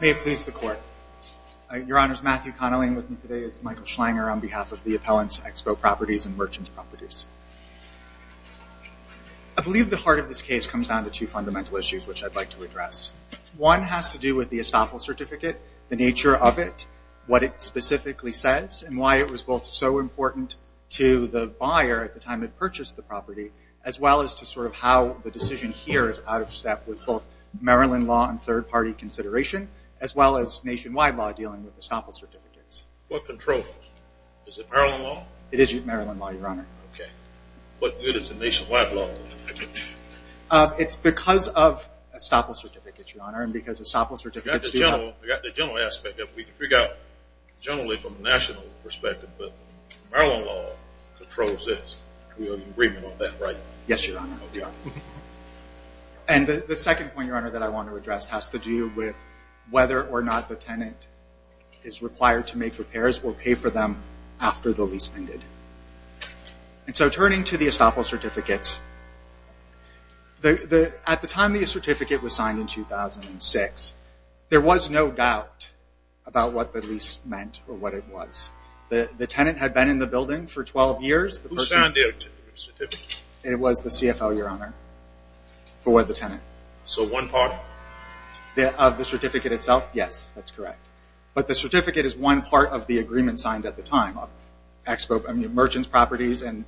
May it please the Court. Your Honor, Matthew Connelly and with me today is Michael Schlanger on behalf of the Appellants Expo Properties and Merchants Properties. I believe the heart of this case comes down to two fundamental issues which I'd like to address. One has to do with the estoppel certificate, the nature of it, what it specifically says, and why it was both so important to the buyer at the time they purchased the property, as well as to sort of how the decision here is out of step with both Maryland law and third as well as nationwide law dealing with estoppel certificates. What controls? Is it Maryland law? It is Maryland law, Your Honor. Okay. What good is the nationwide law? It's because of estoppel certificates, Your Honor, and because estoppel certificates do not... We got the general aspect that we can figure out generally from a national perspective, but Maryland law controls this. We have an agreement on that, right? Yes, Your Honor. And the second point, Your Honor, that I want to address has to do with whether or not the tenant is required to make repairs or pay for them after the lease ended. And so turning to the estoppel certificates, at the time the certificate was signed in 2006, there was no doubt about what the lease meant or what it was. The tenant had been in the building for 12 years. Who is the one party? Of the certificate itself? Yes, that's correct. But the certificate is one part of the agreement signed at the time. Merchants Properties and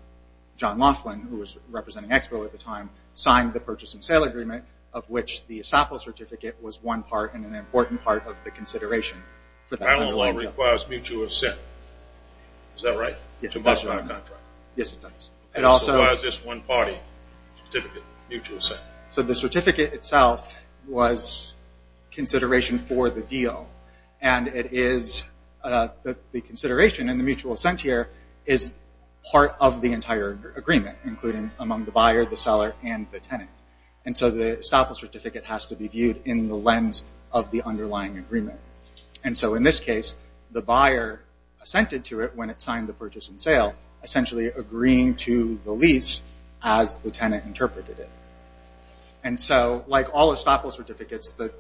John Laughlin, who was representing Expo at the time, signed the purchase and sale agreement of which the estoppel certificate was one part and an important part of the consideration. Maryland law requires mutual assent. Is that right? Yes, it does, Your Honor. It also requires this one party mutual assent. So the certificate itself was consideration for the deal. And it is the consideration and the mutual assent here is part of the entire agreement, including among the buyer, the seller, and the tenant. And so the estoppel certificate has to be viewed in the lens of the underlying agreement. And so in this case, the buyer assented to it when it signed the purchase and sale, essentially agreeing to the lease as the tenant interpreted it. And so like all estoppel certificates, the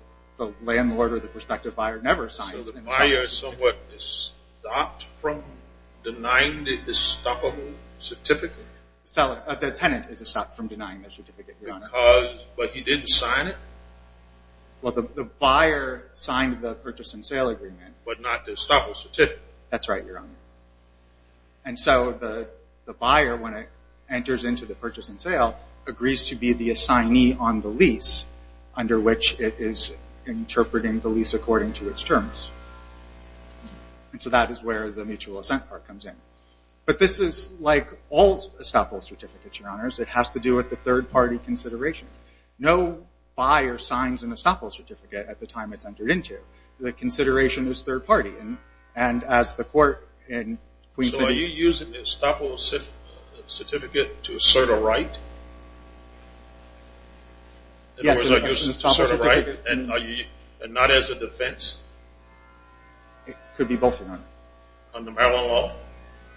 landlord or the prospective buyer never signs it. So the buyer somewhat stopped from denying the estoppel certificate? The tenant is stopped from denying the certificate, Your Honor. But he didn't sign it? Well, the buyer signed the purchase and sale agreement. But not the estoppel certificate? That's right, Your Honor. And so the buyer, when it enters into the purchase and sale, agrees to be the assignee on the lease under which it is interpreting the lease according to its terms. And so that is where the mutual assent part comes in. But this is like all estoppel certificates, Your Honors. It has to do with the third party consideration. No buyer signs an estoppel certificate at the time it's entered into. The consideration is third party. And as the court in Queens City... So are you using the estoppel certificate to assert a right? Yes. In other words, are you using it to assert a right and not as a defense? It could be both, Your Honor. Under Maryland law?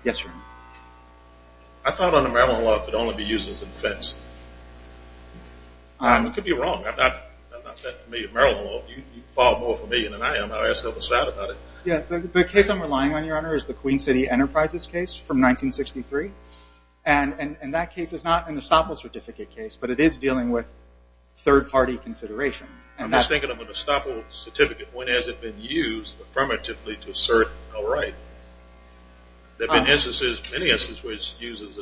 Yes, Your Honor. I thought under Maryland law it could only be used as a defense. I could be wrong. I'm not set for Maryland law. You fall more for me than I am. I'll ask the other side about it. The case I'm relying on, Your Honor, is the Queen City Enterprises case from 1963. And that case is not an estoppel certificate case, but it is dealing with third party consideration. I'm just thinking of an estoppel certificate. When has it been used affirmatively to assert a right? There is no question.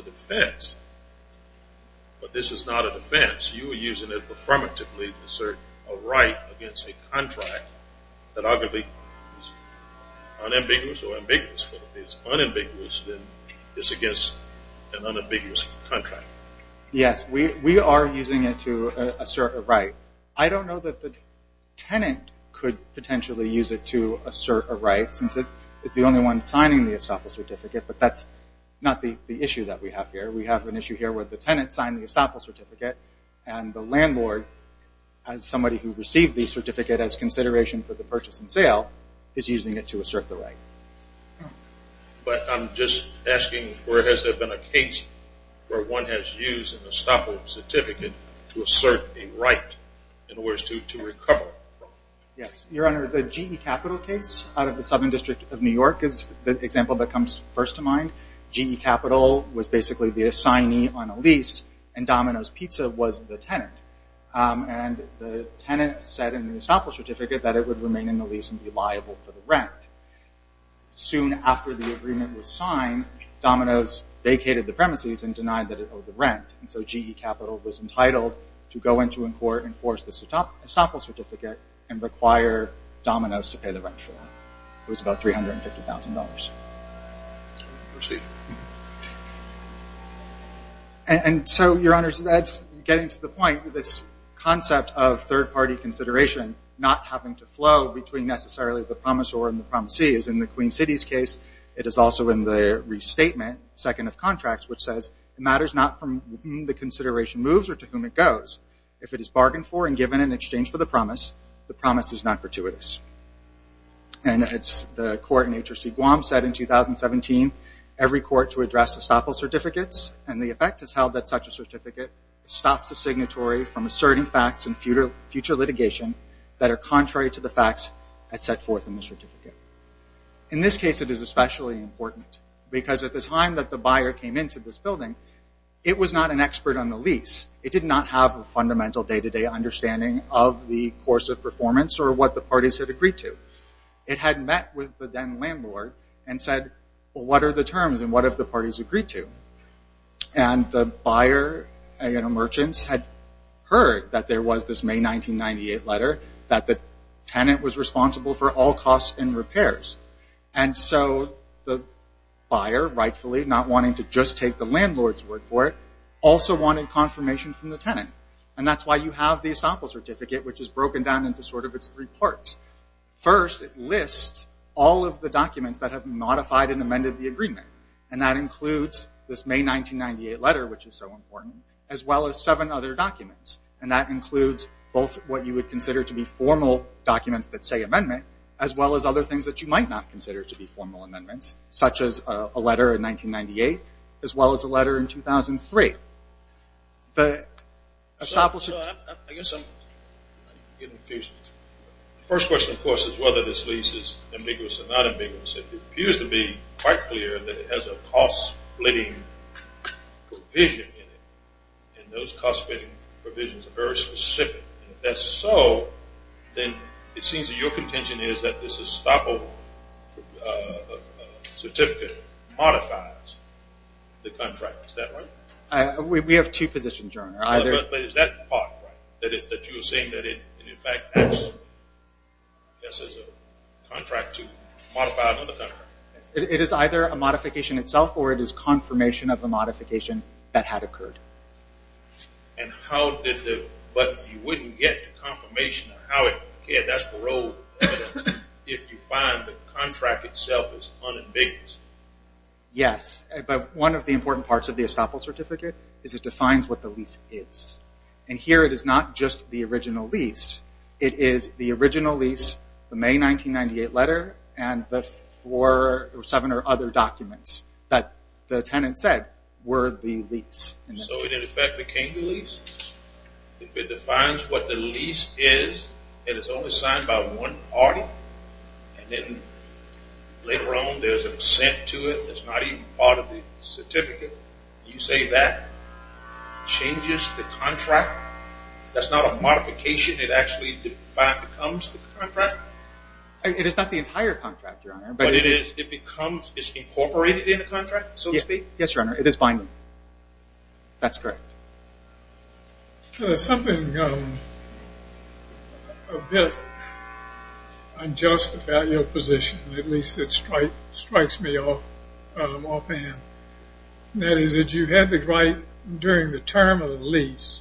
But this is not a defense. You are using it affirmatively to assert a right against a contract that arguably is unambiguous or ambiguous. If it's unambiguous, then it's against an unambiguous contract. Yes, we are using it to assert a right. I don't know that the tenant could potentially use it to assert a right since it's the only one signing the estoppel certificate, but that's not the issue that we have here. We have an issue here where the tenant signed the estoppel certificate and the landlord, as somebody who received the certificate as consideration for the purchase and sale, is using it to assert the right. But I'm just asking, where has there been a case where one has used an estoppel certificate to assert a right in order to recover it? Yes, Your Honor, the GE Capital case out of the Southern District of New York is the example that comes first to mind. GE Capital was basically the assignee on a lease and Domino's Pizza was the tenant. The tenant said in the estoppel certificate that it would remain in the lease and be liable for the rent. Soon after the agreement was signed, Domino's vacated the premises and denied that it owed the rent. So GE Capital was entitled to go into a court and force the estoppel certificate and require Domino's to pay the rent for it. It was about $350,000. Your Honor, getting to the point, this concept of third-party consideration not having to flow between necessarily the promisor and the promisee is in the Queen City's case. It is also in the restatement, second of contracts, which says it matters not from whom the consideration moves or to whom it goes. If it is bargained for and given in exchange for the promise, the promise is not gratuitous. The court in HRC Guam said in 2017, every court to address estoppel certificates and the effect is held that such a certificate stops the signatory from asserting facts in future litigation that are contrary to the facts as set forth in the certificate. In this case, it is especially important because at the time that the buyer came into this building, it was not an expert on the lease. It did not have a fundamental day-to-day understanding of the course of performance or what the parties had agreed to. It had met with the then landlord and said, well, what are the terms and what have the parties agreed to? And the buyer and the merchants had heard that there was this May 1998 letter that the tenant was responsible for all costs and repairs. And so the buyer, rightfully, not wanting to just take the landlord's word for it, also wanted confirmation from the tenant. And that's why you have the estoppel certificate, which is broken down into sort of its three parts. First, it lists all of the documents that have been modified and amended the agreement. And that includes this May 1998 letter, which is so important, as well as seven other documents. And that includes both what you would consider to be formal documents that say amendment, as well as other things that you might not consider to be formal amendments, such as a letter in 1998, as well as a letter in 2003. The estoppel certificate... I guess I'm getting confused. The first question, of course, is whether this lease is ambiguous or not ambiguous. It appears to be quite clear that it has a cost-splitting provision in it. And those cost-splitting provisions are very specific. And if that's so, then it seems to me that your contention is that this estoppel certificate modifies the contract. Is that right? We have two positions, Your Honor. But is that part right? That you are saying that it in fact acts, I guess, as a contract to modify another contract? It is either a modification itself or it is confirmation of a modification that had occurred. But you wouldn't get confirmation of how it occurred. That's paroled evidence. If you find the contract itself is unambiguous. Yes. But one of the important parts of the estoppel certificate is it defines what the lease is. And here it is not just the original lease. It is the original lease, the May 1998 letter, and the four or seven or other documents that the tenant said were the lease. So it in fact became the lease? If it defines what the lease is, and it's only signed by one party, and then later on there's an assent to it that's not even part of the certificate, you say that changes the contract? It is not the entire contract, Your Honor. But it becomes incorporated in the contract, so to speak? Yes, Your Honor. It is binding. That's correct. There's something a bit unjust about your position. At least it strikes me offhand. That is that you had the right during the term of the lease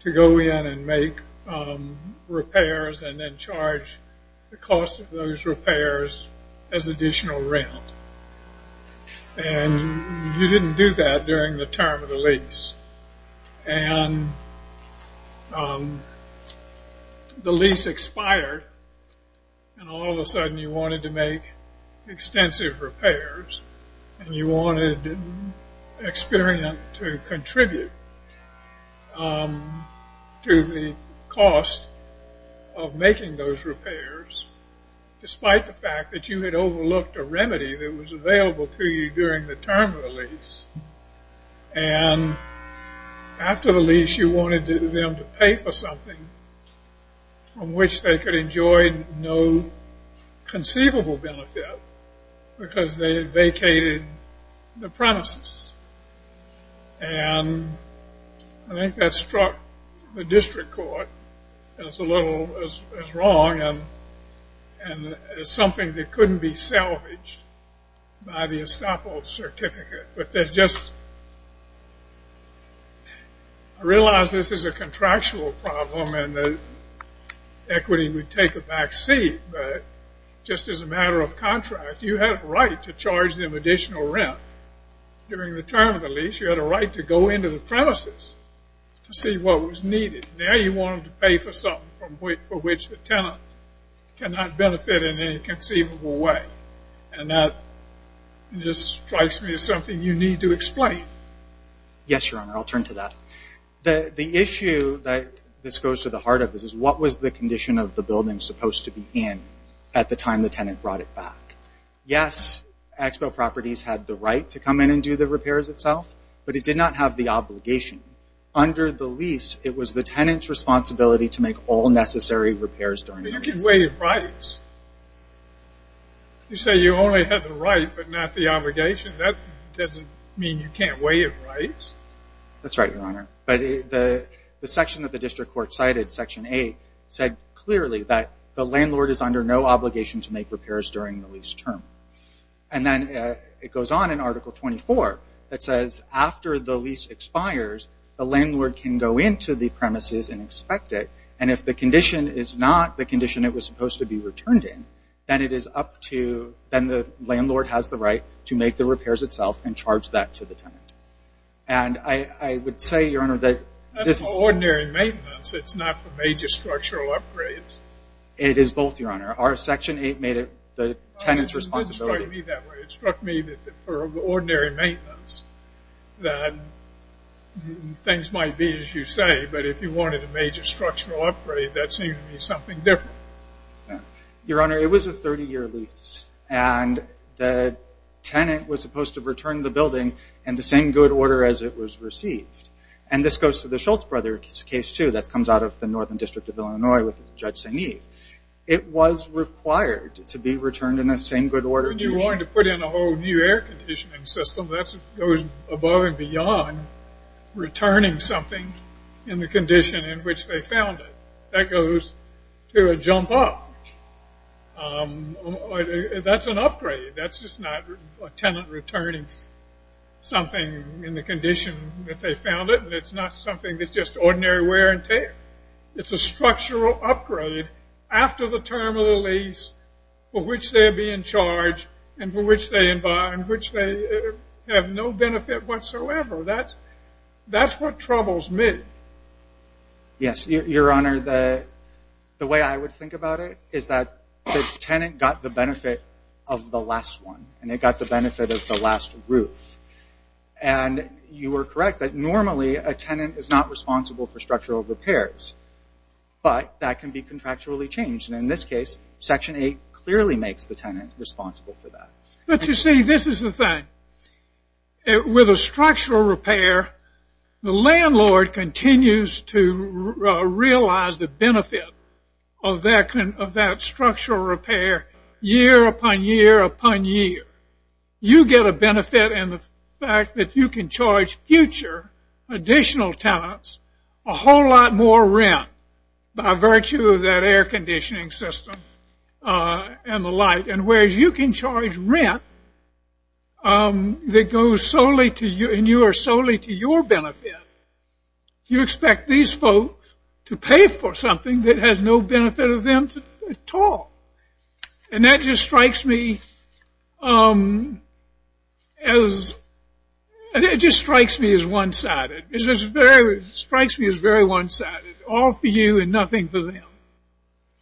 to go in and make repairs and then charge the cost of those repairs as additional rent. And you didn't do that during the term of the lease. And the lease expired, and all of a sudden you wanted to make extensive repairs, and you wanted experience to contribute to the cost of making those repairs, despite the fact that you had overlooked a remedy that was available to you during the term of the lease. And after the lease you wanted them to pay for something from which they could enjoy no conceivable benefit because they vacated the premises. And I think that struck the district court as a little as wrong and as something that couldn't be salvaged by the estoppel certificate. But I realize this is a contractual problem and that equity would take a back seat, but just as a matter of contract you had a right to charge them additional rent during the term of the lease. You had a right to go into the premises to see what was needed. Now you wanted to pay for something for which the tenant cannot benefit in any conceivable way. And that just strikes me as something you need to explain. Yes, Your Honor, I'll turn to that. The issue that this goes to the heart of this is what was the condition of the building supposed to be in at the time the tenant brought it back. Yes, Expo Properties had the right to come in and do the repairs itself, but it did not have the obligation. Under the lease it was the tenant's responsibility to make all necessary repairs during the lease. But you can waive rights. You say you only had the right but not the obligation. That doesn't mean you can't waive rights. That's right, Your Honor. But the section that the district court cited, Section 8, said clearly that the landlord is under no obligation to make repairs during the lease term. And then it goes on in Article 24 that says after the lease expires, the landlord can go into the premises and expect it. And if the condition is not the condition it was supposed to be returned in, then the landlord has the right to make the repairs itself and charge that to the tenant. And I would say, Your Honor, that this is... That's for ordinary maintenance. It's not for major structural upgrades. It is both, Your Honor. Our Section 8 made it the tenant's responsibility. Don't strike me that way. It struck me that for ordinary maintenance that things might be as you say, but if you wanted a major structural upgrade, that seems to be something different. Your Honor, it was a 30-year lease. And the tenant was supposed to return the building in the same good order as it was received. And this goes to the Schultz brothers' case, too. That comes out of the Northern District of Illinois with Judge St. Eve. It was required to be returned in the same good order. If you wanted to put in a whole new air conditioning system, that goes above and beyond returning something in the condition in which they found it. That goes to a jump off. That's an upgrade. That's just not a tenant returning something in the condition that they found it. It's not something that's just ordinary wear and tear. It's a structural upgrade after the term of the lease for which they'll be in charge and for which they have no benefit whatsoever. That's what troubles me. Yes. Your Honor, the way I would think about it is that the tenant got the benefit of the last one, and it got the benefit of the last roof. And you were correct that normally a tenant is not responsible for structural repairs, but that can be contractually changed. And in this case, Section 8 clearly makes the tenant responsible for that. But you see, this is the thing. With a structural repair, the landlord continues to realize the benefit of that structural repair year upon year upon year. You get a benefit in the fact that you can charge future additional tenants a whole lot more rent by virtue of that air conditioning system and the like. And whereas you can charge rent that goes solely to you and you are solely to your benefit, you expect these folks to pay for something that has no benefit of them at all. And that just strikes me as one-sided. It strikes me as very one-sided, all for you and nothing for them.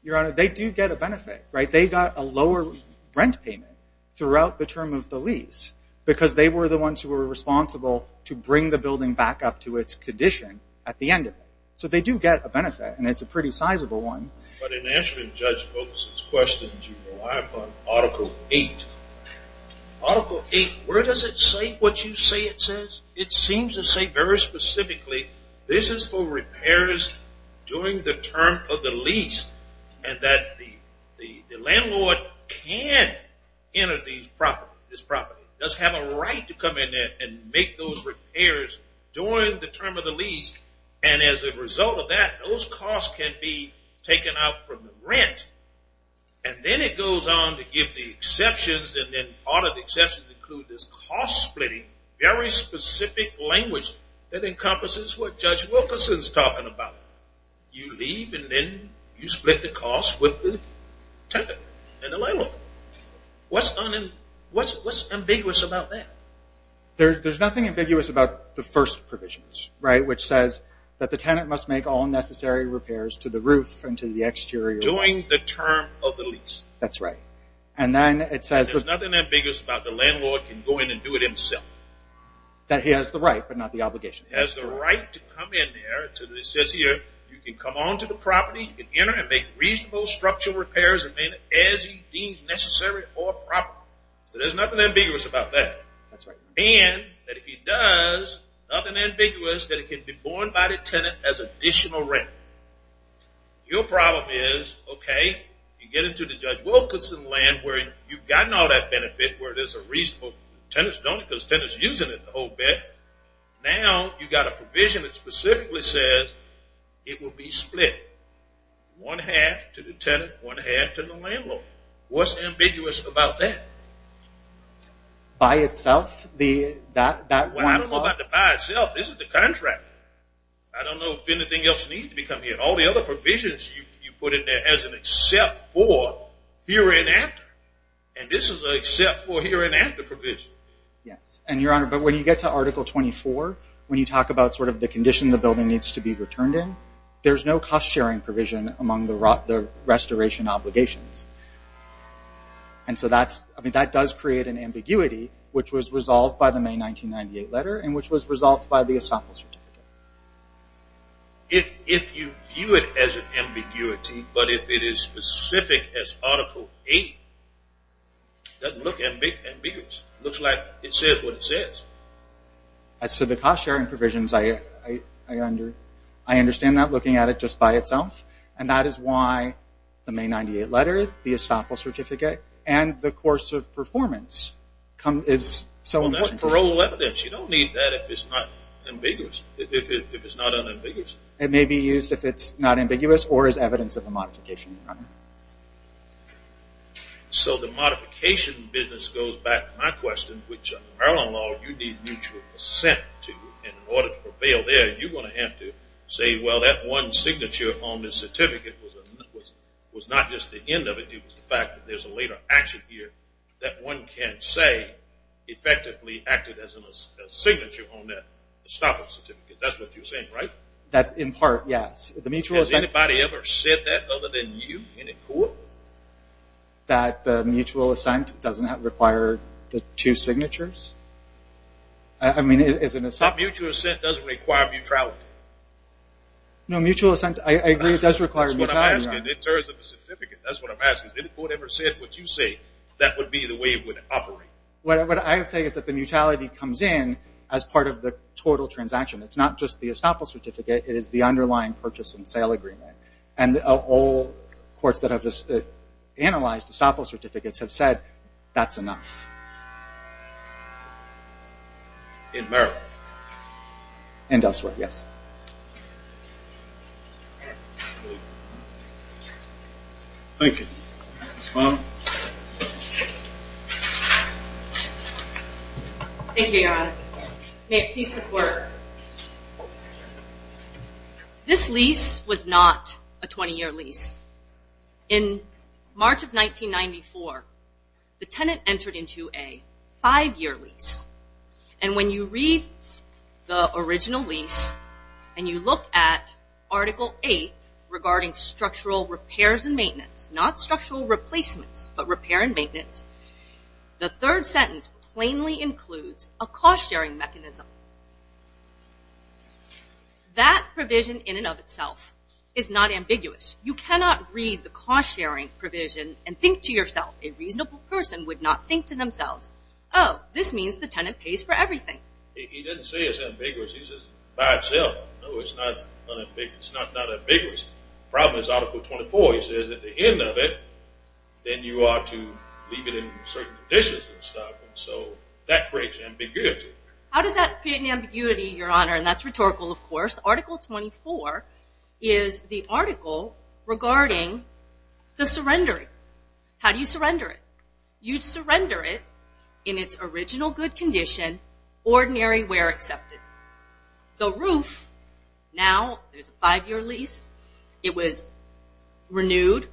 Your Honor, they do get a benefit. They got a lower rent payment throughout the term of the lease because they were the ones who were responsible to bring the building back up to its condition at the end of it. So they do get a benefit, and it's a pretty sizable one. But in answering Judge Vogel's questions, you rely upon Article 8. Article 8, where does it say what you say it says? It seems to say very specifically this is for repairs during the term of the lease and that the landlord can enter this property, does have a right to come in there and make those repairs during the term of the lease. And as a result of that, those costs can be taken out from the rent. And then it goes on to give the exceptions, and then part of the exceptions include this cost-splitting, very specific language that encompasses what Judge Wilkerson is talking about. You leave and then you split the cost with the tenant and the landlord. What's ambiguous about that? There's nothing ambiguous about the first provisions, right, which says that the tenant must make all necessary repairs to the roof and to the exterior. During the term of the lease. That's right. And then it says there's nothing ambiguous about the landlord can go in and do it himself. That he has the right but not the obligation. He has the right to come in there. It says here you can come on to the property, you can enter and make reasonable structural repairs as he deems necessary or proper. So there's nothing ambiguous about that. That's right. And that if he does, nothing ambiguous that it can be borne by the tenant as additional rent. Your problem is, okay, you get into the Judge Wilkerson land where you've gotten all that benefit, where there's a reasonable tenant's done it because the tenant's using it the whole bit. Now you've got a provision that specifically says it will be split one-half to the tenant, one-half to the landlord. What's ambiguous about that? By itself? Well, I don't know about the by itself. This is the contract. I don't know if anything else needs to become here. All the other provisions you put in there has an except for here and after. And this is an except for here and after provision. Yes. And, Your Honor, but when you get to Article 24, when you talk about sort of the condition the building needs to be returned in, there's no cost-sharing provision among the restoration obligations. And so that does create an ambiguity, which was resolved by the May 1998 letter and which was resolved by the ESOPL certificate. If you view it as an ambiguity, but if it is specific as Article 8, it doesn't look ambiguous. It looks like it says what it says. As to the cost-sharing provisions, I understand that looking at it just by itself, and that is why the May 1998 letter, the ESOPL certificate, and the course of performance is so important. Well, that's parole evidence. You don't need that if it's not ambiguous, if it's not unambiguous. It may be used if it's not ambiguous or is evidence of a modification, Your Honor. So the modification business goes back to my question, which under Maryland law you need mutual assent to. And in order to prevail there, you're going to have to say, well, that one signature on the certificate was not just the end of it. It was the fact that there's a later action here that one can say effectively acted as a signature on that ESOPL certificate. That's what you're saying, right? That's in part, yes. The mutual assent. Has anybody ever said that other than you in a court? That the mutual assent doesn't require the two signatures? I mean, is it an assertion? A mutual assent doesn't require mutuality. No, mutual assent, I agree, it does require mutuality, Your Honor. That's what I'm asking in terms of a certificate. That's what I'm asking. Has any court ever said what you say that would be the way it would operate? What I would say is that the mutuality comes in as part of the total transaction. It's not just the ESOPL certificate. It is the underlying purchase and sale agreement. And all courts that have analyzed ESOPL certificates have said that's enough. In Maryland? And elsewhere, yes. Thank you. Ms. Fong. Thank you, Your Honor. May it please the Court. This lease was not a 20-year lease. In March of 1994, the tenant entered into a five-year lease. And when you read the original lease and you look at Article 8 regarding structural repairs and maintenance, not structural replacements, but repair and maintenance, the third sentence plainly includes a cost-sharing mechanism. That provision in and of itself is not ambiguous. You cannot read the cost-sharing provision and think to yourself, a reasonable person would not think to themselves, oh, this means the tenant pays for everything. He didn't say it's ambiguous. He says by itself, no, it's not ambiguous. The problem is Article 24. He says at the end of it, then you are to leave it in certain conditions and stuff. And so that creates ambiguity. How does that create an ambiguity, Your Honor? And that's rhetorical, of course. Article 24 is the article regarding the surrendering. How do you surrender it? You surrender it in its original good condition, ordinary where accepted. The roof, now there's a five-year lease. It was renewed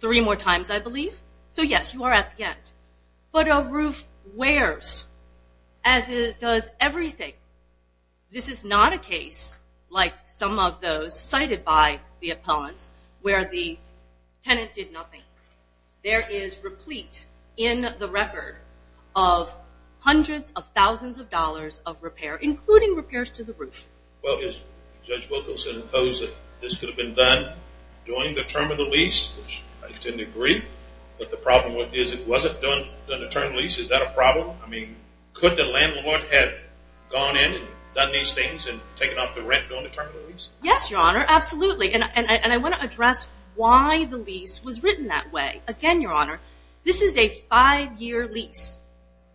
three more times, I believe. So, yes, you are at the end. But a roof wears, as it does everything. This is not a case like some of those cited by the appellants where the tenant did nothing. There is replete in the record of hundreds of thousands of dollars of repair, including repairs to the roof. Well, Judge Wilkerson imposed that this could have been done during the term of the lease, which I tend to agree. But the problem is it wasn't done during the term of the lease. Is that a problem? I mean, could the landlord have gone in and done these things and taken off the rent during the term of the lease? Yes, Your Honor, absolutely. And I want to address why the lease was written that way. Again, Your Honor, this is a five-year lease.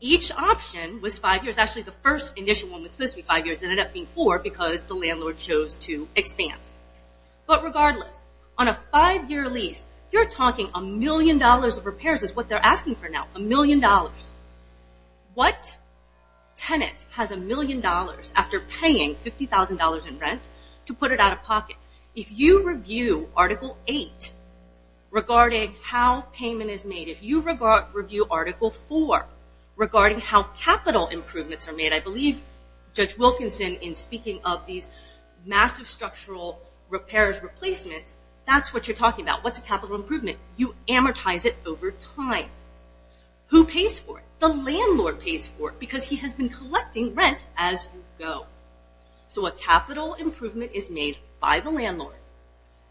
Each option was five years. Actually, the first initial one was supposed to be five years. It ended up being four because the landlord chose to expand. But regardless, on a five-year lease, you're talking a million dollars of repairs is what they're asking for now, a million dollars. What tenant has a million dollars after paying $50,000 in rent to put it out of pocket? If you review Article 8 regarding how payment is made, if you review Article 4 regarding how capital improvements are made, I believe Judge Wilkerson, in speaking of these massive structural repairs, replacements, that's what you're talking about. What's a capital improvement? You amortize it over time. Who pays for it? The landlord pays for it because he has been collecting rent as you go. So a capital improvement is made by the landlord.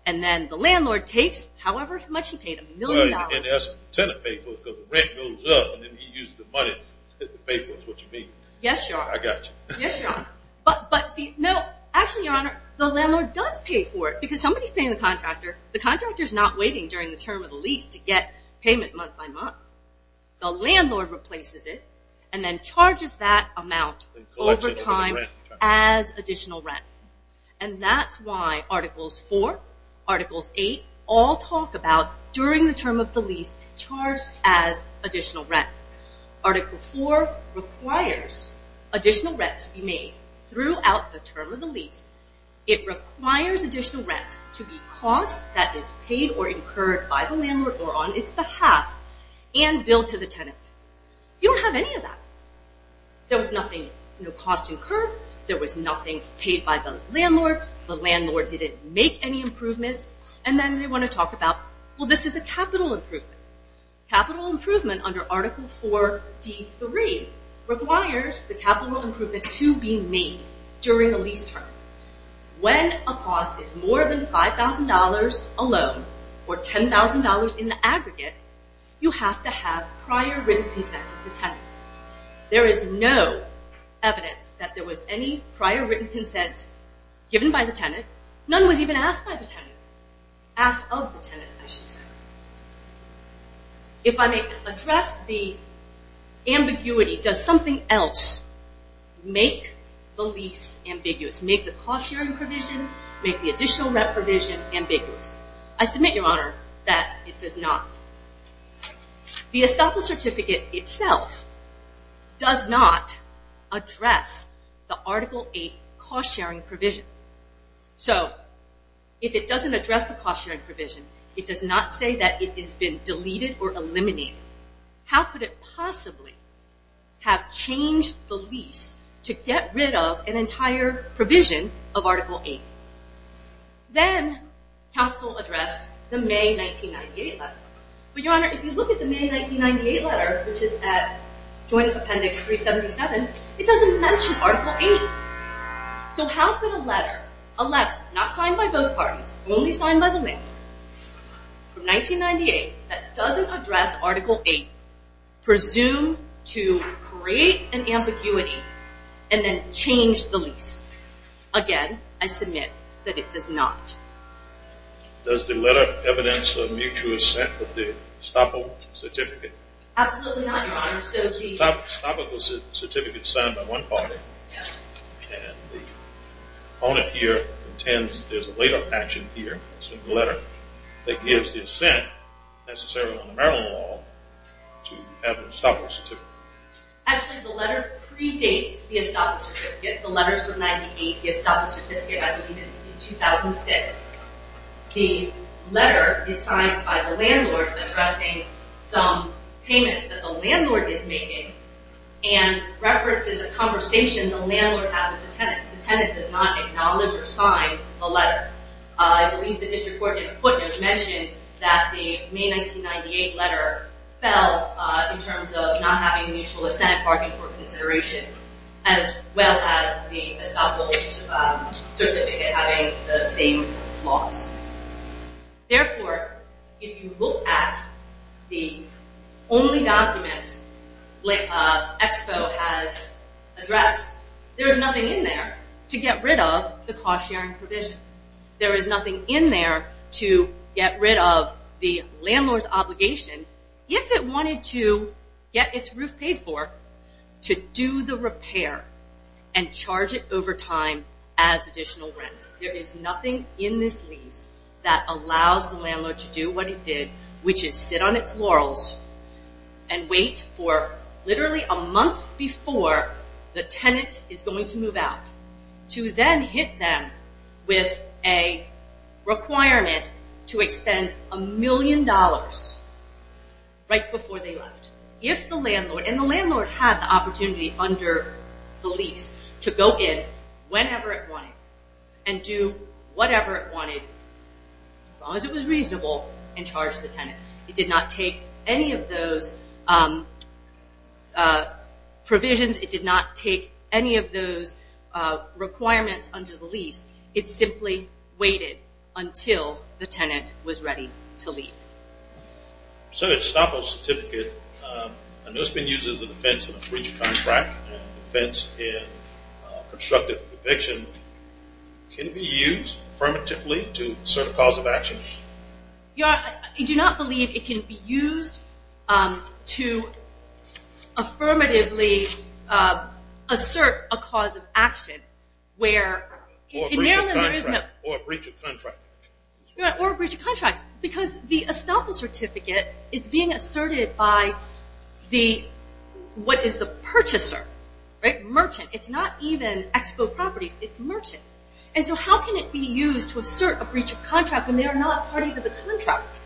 And then the landlord takes however much he paid, a million dollars. And that's what the tenant paid for because the rent goes up and then he uses the money to pay for it is what you mean. Yes, Your Honor. I got you. Yes, Your Honor. But actually, Your Honor, the landlord does pay for it because somebody is paying the contractor. The contractor is not waiting during the term of the lease to get payment month by month. The landlord replaces it and then charges that amount over time. As additional rent. And that's why Articles 4, Articles 8, all talk about during the term of the lease, charged as additional rent. Article 4 requires additional rent to be made throughout the term of the lease. It requires additional rent to be cost that is paid or incurred by the landlord or on its behalf and billed to the tenant. You don't have any of that. There was nothing cost incurred. There was nothing paid by the landlord. The landlord didn't make any improvements. And then they want to talk about, well, this is a capital improvement. Capital improvement under Article 4D3 requires the capital improvement to be made during the lease term. When a cost is more than $5,000 alone or $10,000 in the aggregate, you have to have prior written consent of the tenant. There is no evidence that there was any prior written consent given by the tenant. None was even asked by the tenant. Asked of the tenant, I should say. If I may address the ambiguity, does something else make the lease ambiguous, make the cost sharing provision, make the additional rent provision ambiguous? I submit, Your Honor, that it does not. The estoppel certificate itself does not address the Article 8 cost sharing provision. So if it doesn't address the cost sharing provision, it does not say that it has been deleted or eliminated. How could it possibly have changed the lease to get rid of an entire provision of Article 8? Then, counsel addressed the May 1998 letter. But, Your Honor, if you look at the May 1998 letter, which is at Joint Appendix 377, it doesn't mention Article 8. So how could a letter, a letter not signed by both parties, only signed by the man, from 1998, that doesn't address Article 8, presume to create an ambiguity and then change the lease? Again, I submit that it does not. Does the letter evidence a mutual assent of the estoppel certificate? Absolutely not, Your Honor. Estoppel was a certificate signed by one party. Yes. And the opponent here intends there's a later action here in the letter that gives the assent necessary under Maryland law to have an estoppel certificate. Actually, the letter predates the estoppel certificate. The letters from 1998 give estoppel certificate, I believe, in 2006. The letter is signed by the landlord addressing some payments that the landlord is making and references a conversation the landlord had with the tenant. The tenant does not acknowledge or sign the letter. I believe the district court in Putnam mentioned that the May 1998 letter fell in terms of not having a mutual assent bargain for consideration as well as the estoppel certificate having the same flaws. Therefore, if you look at the only documents Expo has addressed, there is nothing in there to get rid of the cost-sharing provision. There is nothing in there to get rid of the landlord's obligation. If it wanted to get its roof paid for, to do the repair and charge it over time as additional rent. There is nothing in this lease that allows the landlord to do what it did, which is sit on its laurels and wait for literally a month before the tenant is going to move out to then hit them with a requirement to expend a million dollars right before they left. If the landlord, and the landlord had the opportunity under the lease to go in whenever it wanted and do whatever it wanted, as long as it was reasonable, and charge the tenant. It did not take any of those provisions. It did not take any of those requirements under the lease. It simply waited until the tenant was ready to leave. So the estoppel certificate, I know it's been used as a defense in a breach of contract, and a defense in constructive eviction. Can it be used affirmatively to assert a cause of action? I do not believe it can be used to affirmatively assert a cause of action. Or a breach of contract. Or a breach of contract. Because the estoppel certificate is being asserted by what is the purchaser, merchant. It's not even expo properties, it's merchant. And so how can it be used to assert a breach of contract when they are not a party to the contract?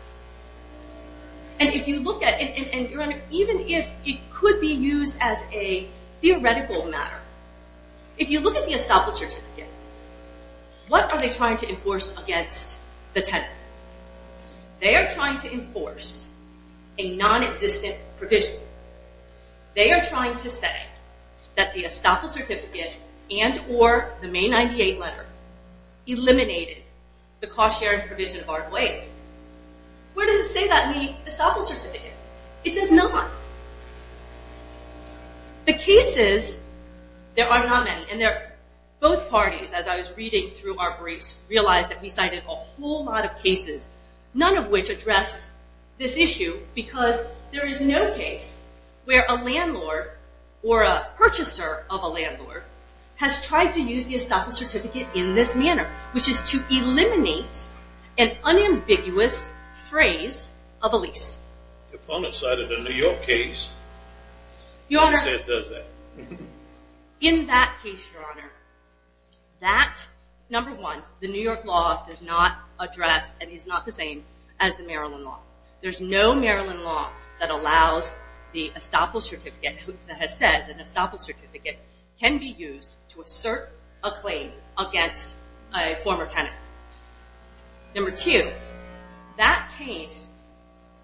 And even if it could be used as a theoretical matter, if you look at the estoppel certificate, what are they trying to enforce against the tenant? They are trying to enforce a non-existent provision. They are trying to say that the estoppel certificate and or the May 98 letter eliminated the cost sharing provision of our claim. Where does it say that in the estoppel certificate? It does not. The cases, there are not many, and both parties, as I was reading through our briefs, realized that we cited a whole lot of cases, none of which address this issue because there is no case where a landlord or a purchaser of a landlord has tried to use the estoppel certificate in this manner, which is to eliminate an unambiguous phrase of a lease. Upon the site of the New York case, what it says does that. In that case, your honor, that, number one, the New York law does not address, and is not the same as the Maryland law. There is no Maryland law that allows the estoppel certificate, that says an estoppel certificate can be used to assert a claim against a former tenant. Number two, that case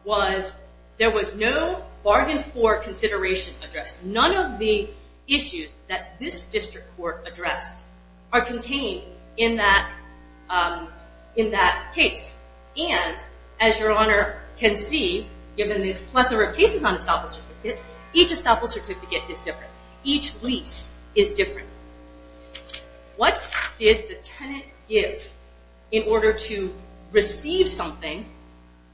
was, there was no bargain for consideration addressed. None of the issues that this district court addressed are contained in that case. And, as your honor can see, given this plethora of cases on estoppel certificate, each estoppel certificate is different. Each lease is different. What did the tenant give in order to receive something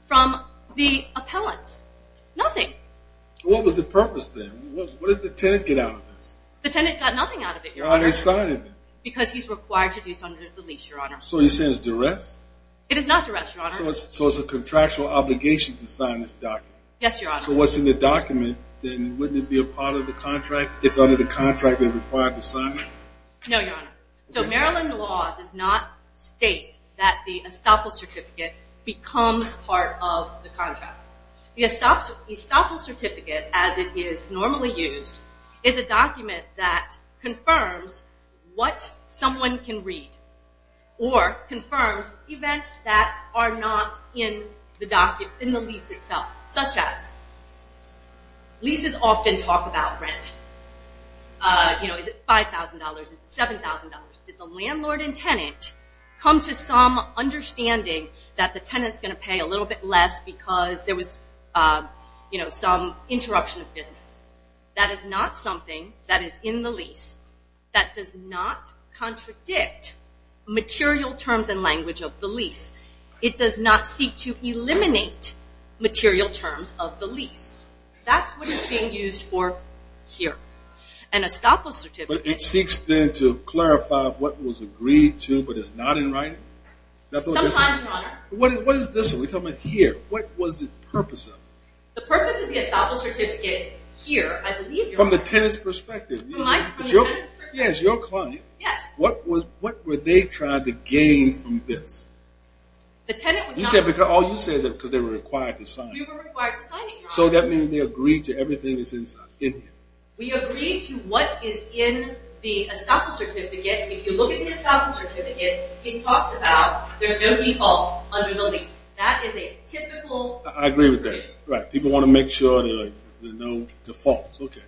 from the appellants? Nothing. What was the purpose then? What did the tenant get out of this? The tenant got nothing out of it, your honor. Why didn't they sign it then? Because he's required to do so under the lease, your honor. So you're saying it's duress? It is not duress, your honor. So it's a contractual obligation to sign this document? Yes, your honor. So what's in the document, then, wouldn't it be a part of the contract, if under the contract they're required to sign it? No, your honor. So Maryland law does not state that the estoppel certificate becomes part of the contract. The estoppel certificate, as it is normally used, is a document that confirms what someone can read or confirms events that are not in the lease itself, such as leases often talk about rent. Is it $5,000? Is it $7,000? Did the landlord and tenant come to some understanding that the tenant's going to pay a little bit less because there was some interruption of business? That is not something that is in the lease. That does not contradict material terms and language of the lease. It does not seek to eliminate material terms of the lease. That's what is being used for here. An estoppel certificate... But it seeks, then, to clarify what was agreed to but is not in writing? Sometimes, your honor. What is this? We're talking about here. What was the purpose of it? The purpose of the estoppel certificate here, I believe... From the tenant's perspective. From the tenant's perspective. Yes, your client. Yes. What were they trying to gain from this? The tenant was not... You said because they were required to sign. We were required to sign it, your honor. So that means they agreed to everything that's in here. We agreed to what is in the estoppel certificate. If you look at the estoppel certificate, it talks about there's no default under the lease. That is a typical... I agree with that. People want to make sure there are no defaults. Okay.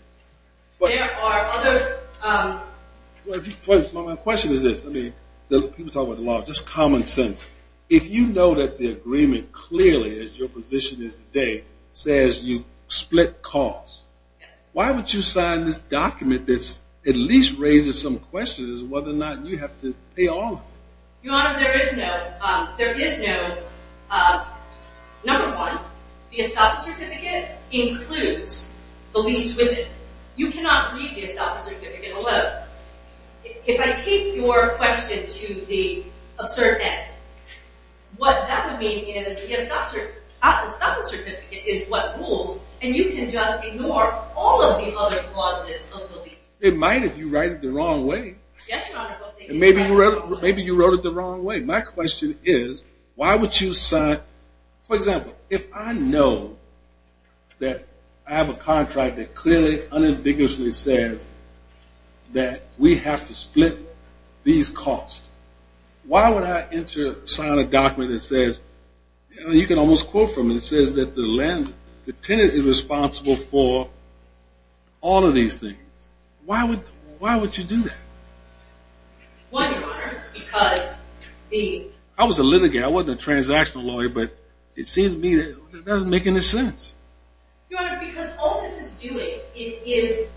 There are other... My question is this. People talk about a lot of just common sense. If you know that the agreement clearly, as your position is today, says you split costs, why would you sign this document that at least raises some questions as to whether or not you have to pay all of it? Your honor, there is no... Number one, the estoppel certificate includes the lease with it. You cannot read the estoppel certificate alone. If I take your question to the absurd end, what that would mean is the estoppel certificate is what rules, and you can just ignore all of the other clauses of the lease. It might if you write it the wrong way. Yes, your honor. Maybe you wrote it the wrong way. My question is why would you sign... For example, if I know that I have a contract that clearly, unambiguously says that we have to split these costs, why would I sign a document that says... You can almost quote from it. It says that the tenant is responsible for all of these things. Why would you do that? Why, your honor? Because the... I was a litigator. I wasn't a transactional lawyer, but it seems to me that it doesn't make any sense. Your honor, because all this is doing, it is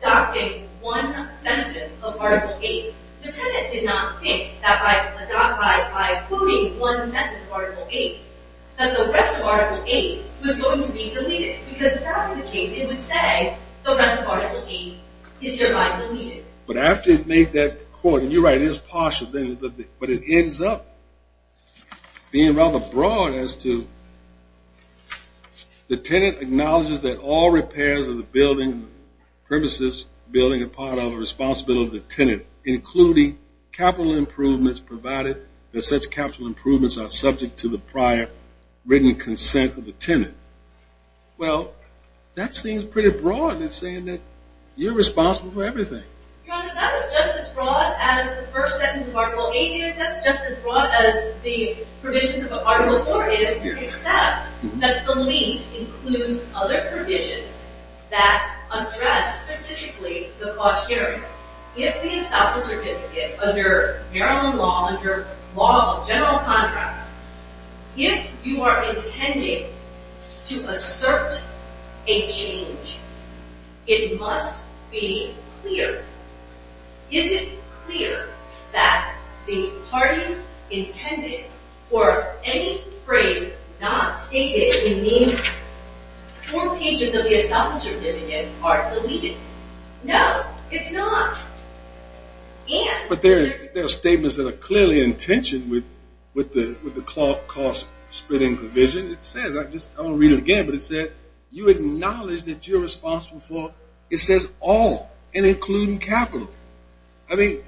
adopting one sentence of Article 8. The tenant did not think that by adopting, by quoting one sentence of Article 8, that the rest of Article 8 was going to be deleted because if that were the case, it would say the rest of Article 8 is hereby deleted. But after it made that quote, and you're right, it is partial, but it ends up being rather broad as to... The tenant acknowledges that all repairs of the building, premises, building are part of the responsibility of the tenant, including capital improvements provided that such capital improvements are subject to the prior written consent of the tenant. Well, that seems pretty broad. You're responsible for everything. Your honor, that is just as broad as the first sentence of Article 8 is. That's just as broad as the provisions of Article 4 is, except that the lease includes other provisions that address specifically the cost hearing. If we stop the certificate under Maryland law, under law of general contracts, if you are intending to assert a change, it must be clear. Is it clear that the parties intended for any phrase not stated in these four pages of the estoppel certificate are deleted? No, it's not. But there are statements that are clearly in tension with the cost splitting provision. It says, I'm going to read it again, but it says you acknowledge that you're responsible for, it says, all and including capital. In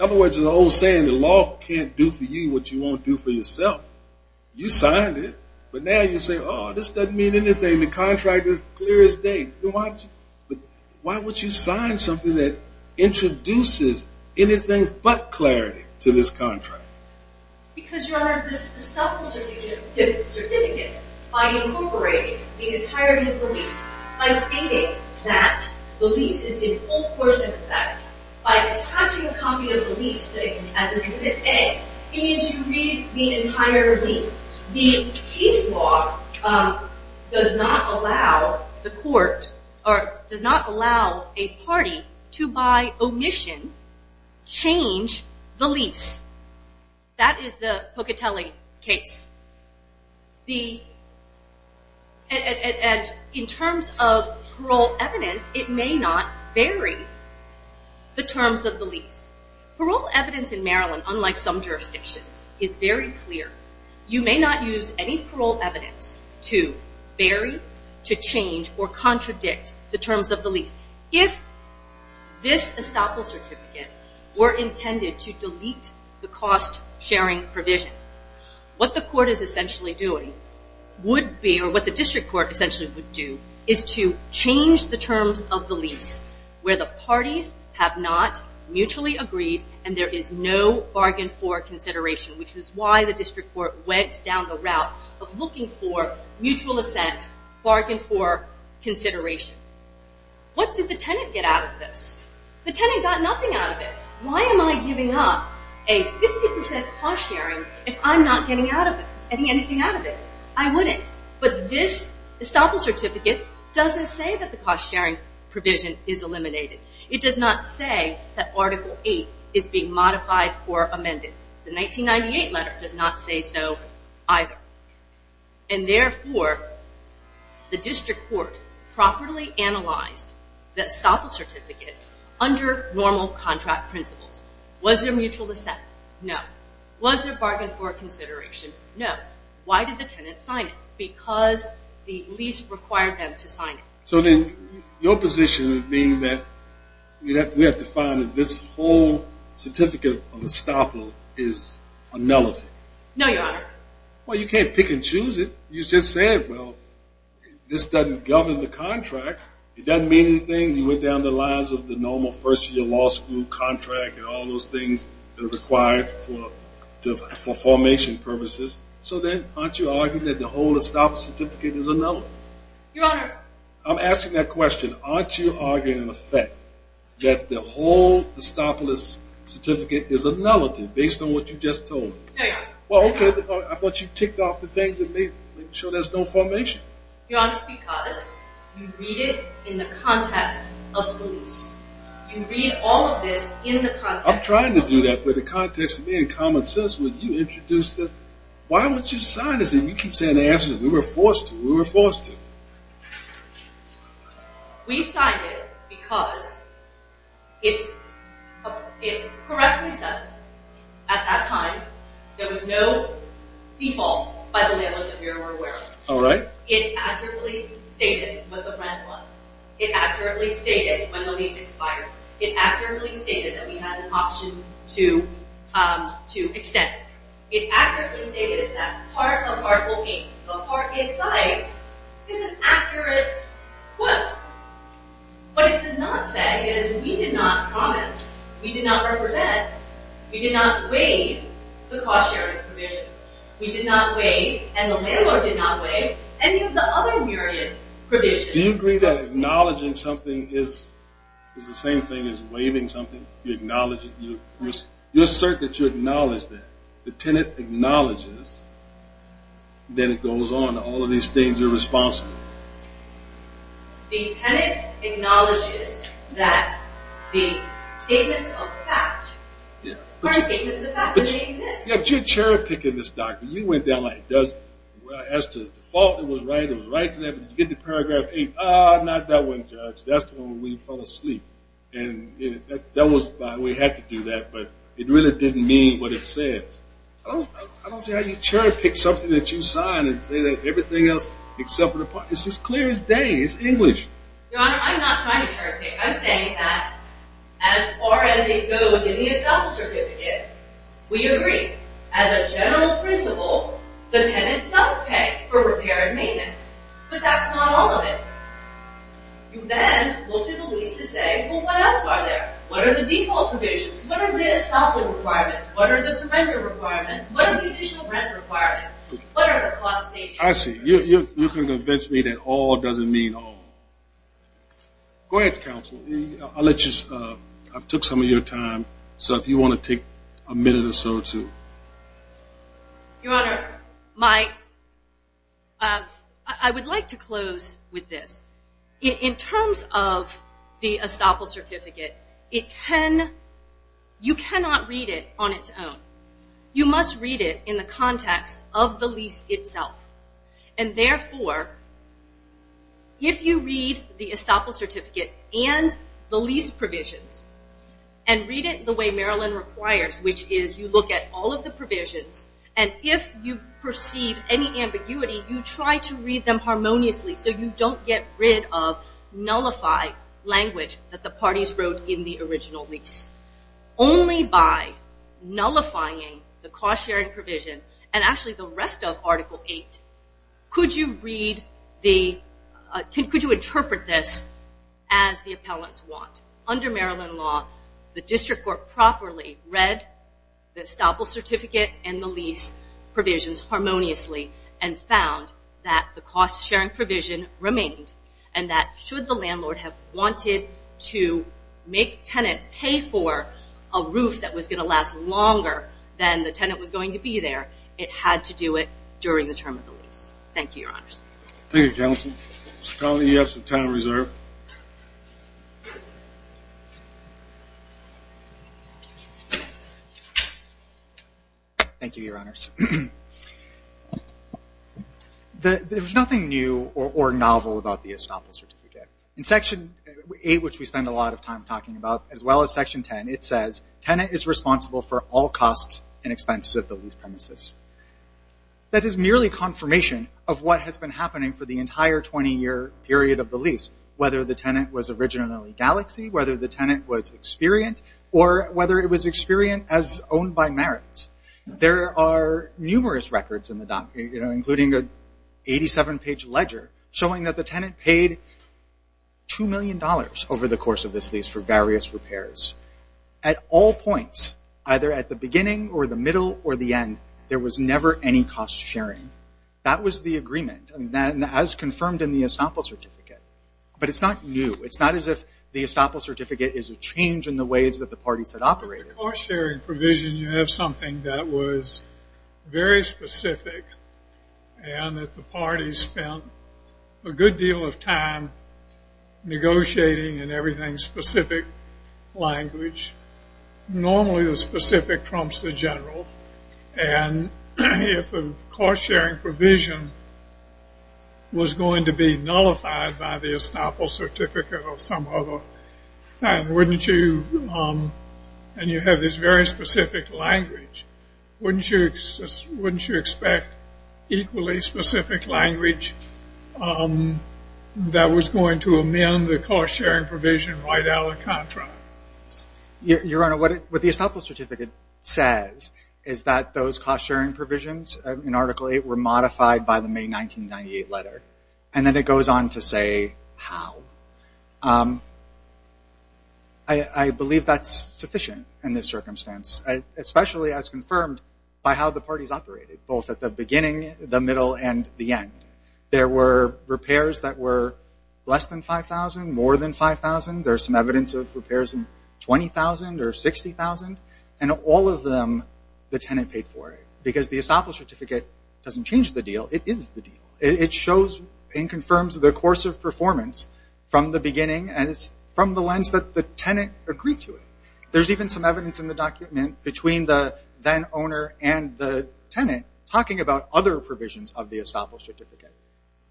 other words, there's an old saying that law can't do for you what you won't do for yourself. You signed it, but now you say, oh, this doesn't mean anything. The contract is clear as day. Why would you sign something that introduces anything but clarity to this contract? Because, Your Honor, this estoppel certificate, by incorporating the entirety of the lease, by stating that the lease is in full course of effect, by attaching a copy of the lease to it as an A, it means you read the entire lease. The case law does not allow a party to, by omission, change the lease. That is the Pocatelli case. In terms of parole evidence, it may not vary the terms of the lease. Parole evidence in Maryland, unlike some jurisdictions, is very clear. You may not use any parole evidence to vary, to change, or contradict the terms of the lease. If this estoppel certificate were intended to delete the cost-sharing provision, what the court is essentially doing would be, or what the district court essentially would do, is to change the terms of the lease where the parties have not mutually agreed and there is no bargain for consideration, which is why the district court went down the route of looking for What did the tenant get out of this? The tenant got nothing out of it. Why am I giving up a 50% cost-sharing if I'm not getting anything out of it? I wouldn't. But this estoppel certificate doesn't say that the cost-sharing provision is eliminated. It does not say that Article 8 is being modified or amended. The 1998 letter does not say so either. And, therefore, the district court properly analyzed the estoppel certificate under normal contract principles. Was there mutual dissent? No. Was there bargain for consideration? No. Why did the tenant sign it? Because the lease required them to sign it. So then your position would mean that we have to find that this whole certificate of estoppel is a nullity. No, Your Honor. Well, you can't pick and choose it. You just said, well, this doesn't govern the contract. It doesn't mean anything. You went down the lines of the normal first-year law school contract and all those things that are required for formation purposes. So then aren't you arguing that the whole estoppel certificate is a nullity? Your Honor. I'm asking that question. Aren't you arguing in effect that the whole estoppel certificate is a nullity based on what you just told me? No, Your Honor. Well, okay. I thought you ticked off the things that made sure there's no formation. Your Honor, because you read it in the context of the lease. You read all of this in the context of the lease. I'm trying to do that. But the context to me, in common sense, when you introduced this, why wouldn't you sign this? And you keep saying the answer is we were forced to. We were forced to. We signed it because it correctly says at that time there was no default by the landlords that we were aware of. All right. It accurately stated what the rent was. It accurately stated when the lease expired. It accurately stated that we had an option to extend. It accurately stated that part of Article 8, the part it cites, is an accurate quote. What it does not say is we did not promise, we did not represent, we did not waive the cost sharing provision. We did not waive, and the landlord did not waive, any of the other myriad provisions. Do you agree that acknowledging something is the same thing as waiving something? You acknowledge it. You assert that you acknowledge that. The tenant acknowledges. Then it goes on. All of these things are responsible. The tenant acknowledges that the statements of fact are statements of fact. They exist. You're cherry-picking this document. You went down like it does. As to default, it was right. It was right to that. But you get to Paragraph 8. Ah, not that one, Judge. That's the one where we fell asleep. We had to do that, but it really didn't mean what it says. I don't see how you cherry-pick something that you sign and say that everything else except for the part. It's as clear as day. It's English. Your Honor, I'm not trying to cherry-pick. I'm saying that as far as it goes in the Estoppel Certificate, we agree. As a general principle, the tenant does pay for repair and maintenance, but that's not all of it. You then go to the lease to say, well, what else are there? What are the default provisions? What are the Estoppel requirements? What are the surrender requirements? What are the additional rent requirements? What are the cost savings? I see. You're trying to convince me that all doesn't mean all. Go ahead, Counsel. I took some of your time, so if you want to take a minute or so, too. Your Honor, I would like to close with this. In terms of the Estoppel Certificate, you cannot read it on its own. You must read it in the context of the lease itself. Therefore, if you read the Estoppel Certificate and the lease provisions and read it the way Maryland requires, which is you look at all of the provisions, and if you perceive any ambiguity, you try to read them harmoniously so you don't get rid of nullified language that the parties wrote in the original lease. Only by nullifying the cost-sharing provision and actually the rest of Article 8 could you interpret this as the appellants want. Under Maryland law, the district court properly read the Estoppel Certificate and the lease provisions harmoniously and found that the cost-sharing provision remained and that should the landlord have wanted to make tenant pay for a roof that was going to last longer than the tenant was going to be there, it had to do it during the term of the lease. Thank you, Your Honors. Thank you, Counsel. Mr. Conley, you have some time reserved. Thank you, Your Honors. There's nothing new or novel about the Estoppel Certificate. In Section 8, which we spend a lot of time talking about, as well as Section 10, it says tenant is responsible for all costs and expenses of the lease premises. That is merely confirmation of what has been happening for the entire 20-year period of the lease, whether the tenant was originally Galaxy, whether the tenant was Experient, or whether it was Experient as owned by Merits. There are numerous records in the document, including an 87-page ledger showing that the tenant paid $2 million over the course of this lease for various repairs. At all points, either at the beginning or the middle or the end, there was never any cost sharing. That was the agreement, as confirmed in the Estoppel Certificate. But it's not new. It's not as if the Estoppel Certificate is a change in the ways that the parties had operated. With the cost sharing provision, you have something that was very specific and that the parties spent a good deal of time negotiating in everything specific language. Normally, the specific trumps the general. And if the cost sharing provision was going to be nullified by the Estoppel Certificate or some other thing, wouldn't you, and you have this very specific language, wouldn't you expect equally specific language that was going to amend the cost sharing provision right out of the contract? Your Honor, what the Estoppel Certificate says is that those cost sharing provisions in Article 8 were modified by the May 1998 letter. And then it goes on to say how. I believe that's sufficient in this circumstance, especially as confirmed by how the parties operated, both at the beginning, the middle, and the end. There were repairs that were less than $5,000, more than $5,000. There's some evidence of repairs in $20,000 or $60,000. And all of them, the tenant paid for it. Because the Estoppel Certificate doesn't change the deal. It is the deal. It shows and confirms the course of performance from the beginning and it's from the lens that the tenant agreed to it. And then talking about other provisions of the Estoppel Certificate.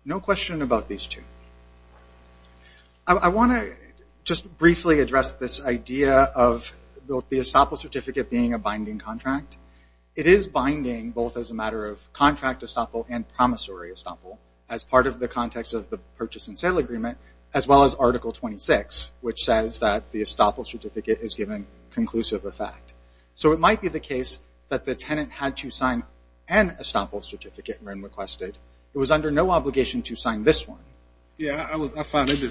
No question about these two. I want to just briefly address this idea of the Estoppel Certificate being a binding contract. It is binding both as a matter of contract Estoppel and promissory Estoppel as part of the context of the purchase and sale agreement, as well as Article 26, which says that the Estoppel Certificate is given conclusive effect. So it might be the case that the tenant had to sign an Estoppel Certificate when requested. It was under no obligation to sign this one. Yeah, I found it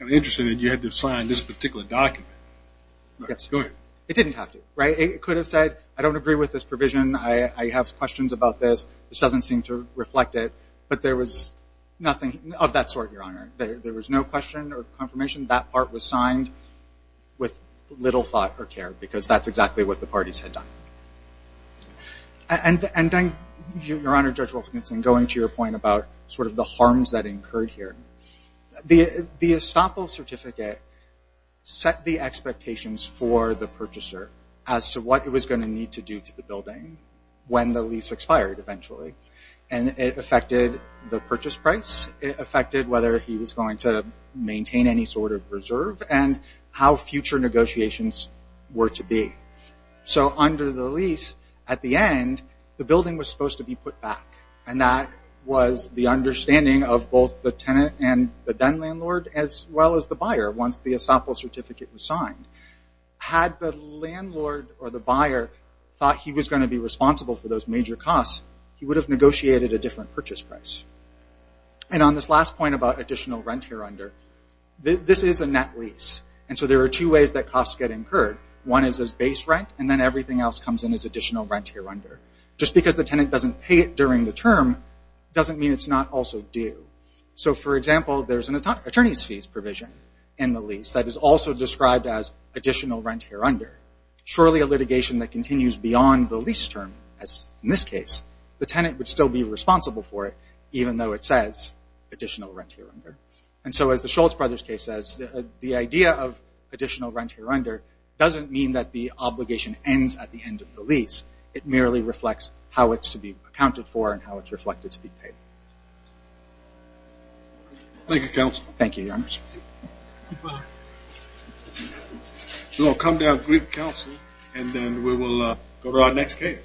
interesting that you had to sign this particular document. Go ahead. It didn't have to. It could have said, I don't agree with this provision. I have questions about this. This doesn't seem to reflect it. But there was nothing of that sort, Your Honor. There was no question or confirmation. That part was signed with little thought or care, because that's exactly what the parties had done. And, Your Honor, Judge Wolfensohn, going to your point about sort of the harms that incurred here, the Estoppel Certificate set the expectations for the purchaser as to what it was going to need to do to the building when the lease expired eventually. And it affected the purchase price. It affected whether he was going to maintain any sort of reserve and how future negotiations were to be. So under the lease, at the end, the building was supposed to be put back. And that was the understanding of both the tenant and the then-landlord, as well as the buyer, once the Estoppel Certificate was signed. Had the landlord or the buyer thought he was going to be responsible for those major costs, he would have negotiated a different purchase price. And on this last point about additional rent hereunder, this is a net lease. And so there are two ways that costs get incurred. One is as base rent, and then everything else comes in as additional rent hereunder. Just because the tenant doesn't pay it during the term doesn't mean it's not also due. So, for example, there's an attorney's fees provision in the lease that is also described as additional rent hereunder. Surely a litigation that continues beyond the lease term, as in this case, the tenant would still be responsible for it, even though it says additional rent hereunder. And so, as the Schultz Brothers case says, the idea of additional rent hereunder doesn't mean that the obligation ends at the end of the lease. It merely reflects how it's to be accounted for and how it's reflected to be paid. Thank you, counsel. Thank you, Your Honor. Thank you, Your Honor. We're going to come to our brief counsel, and then we will go to our next case.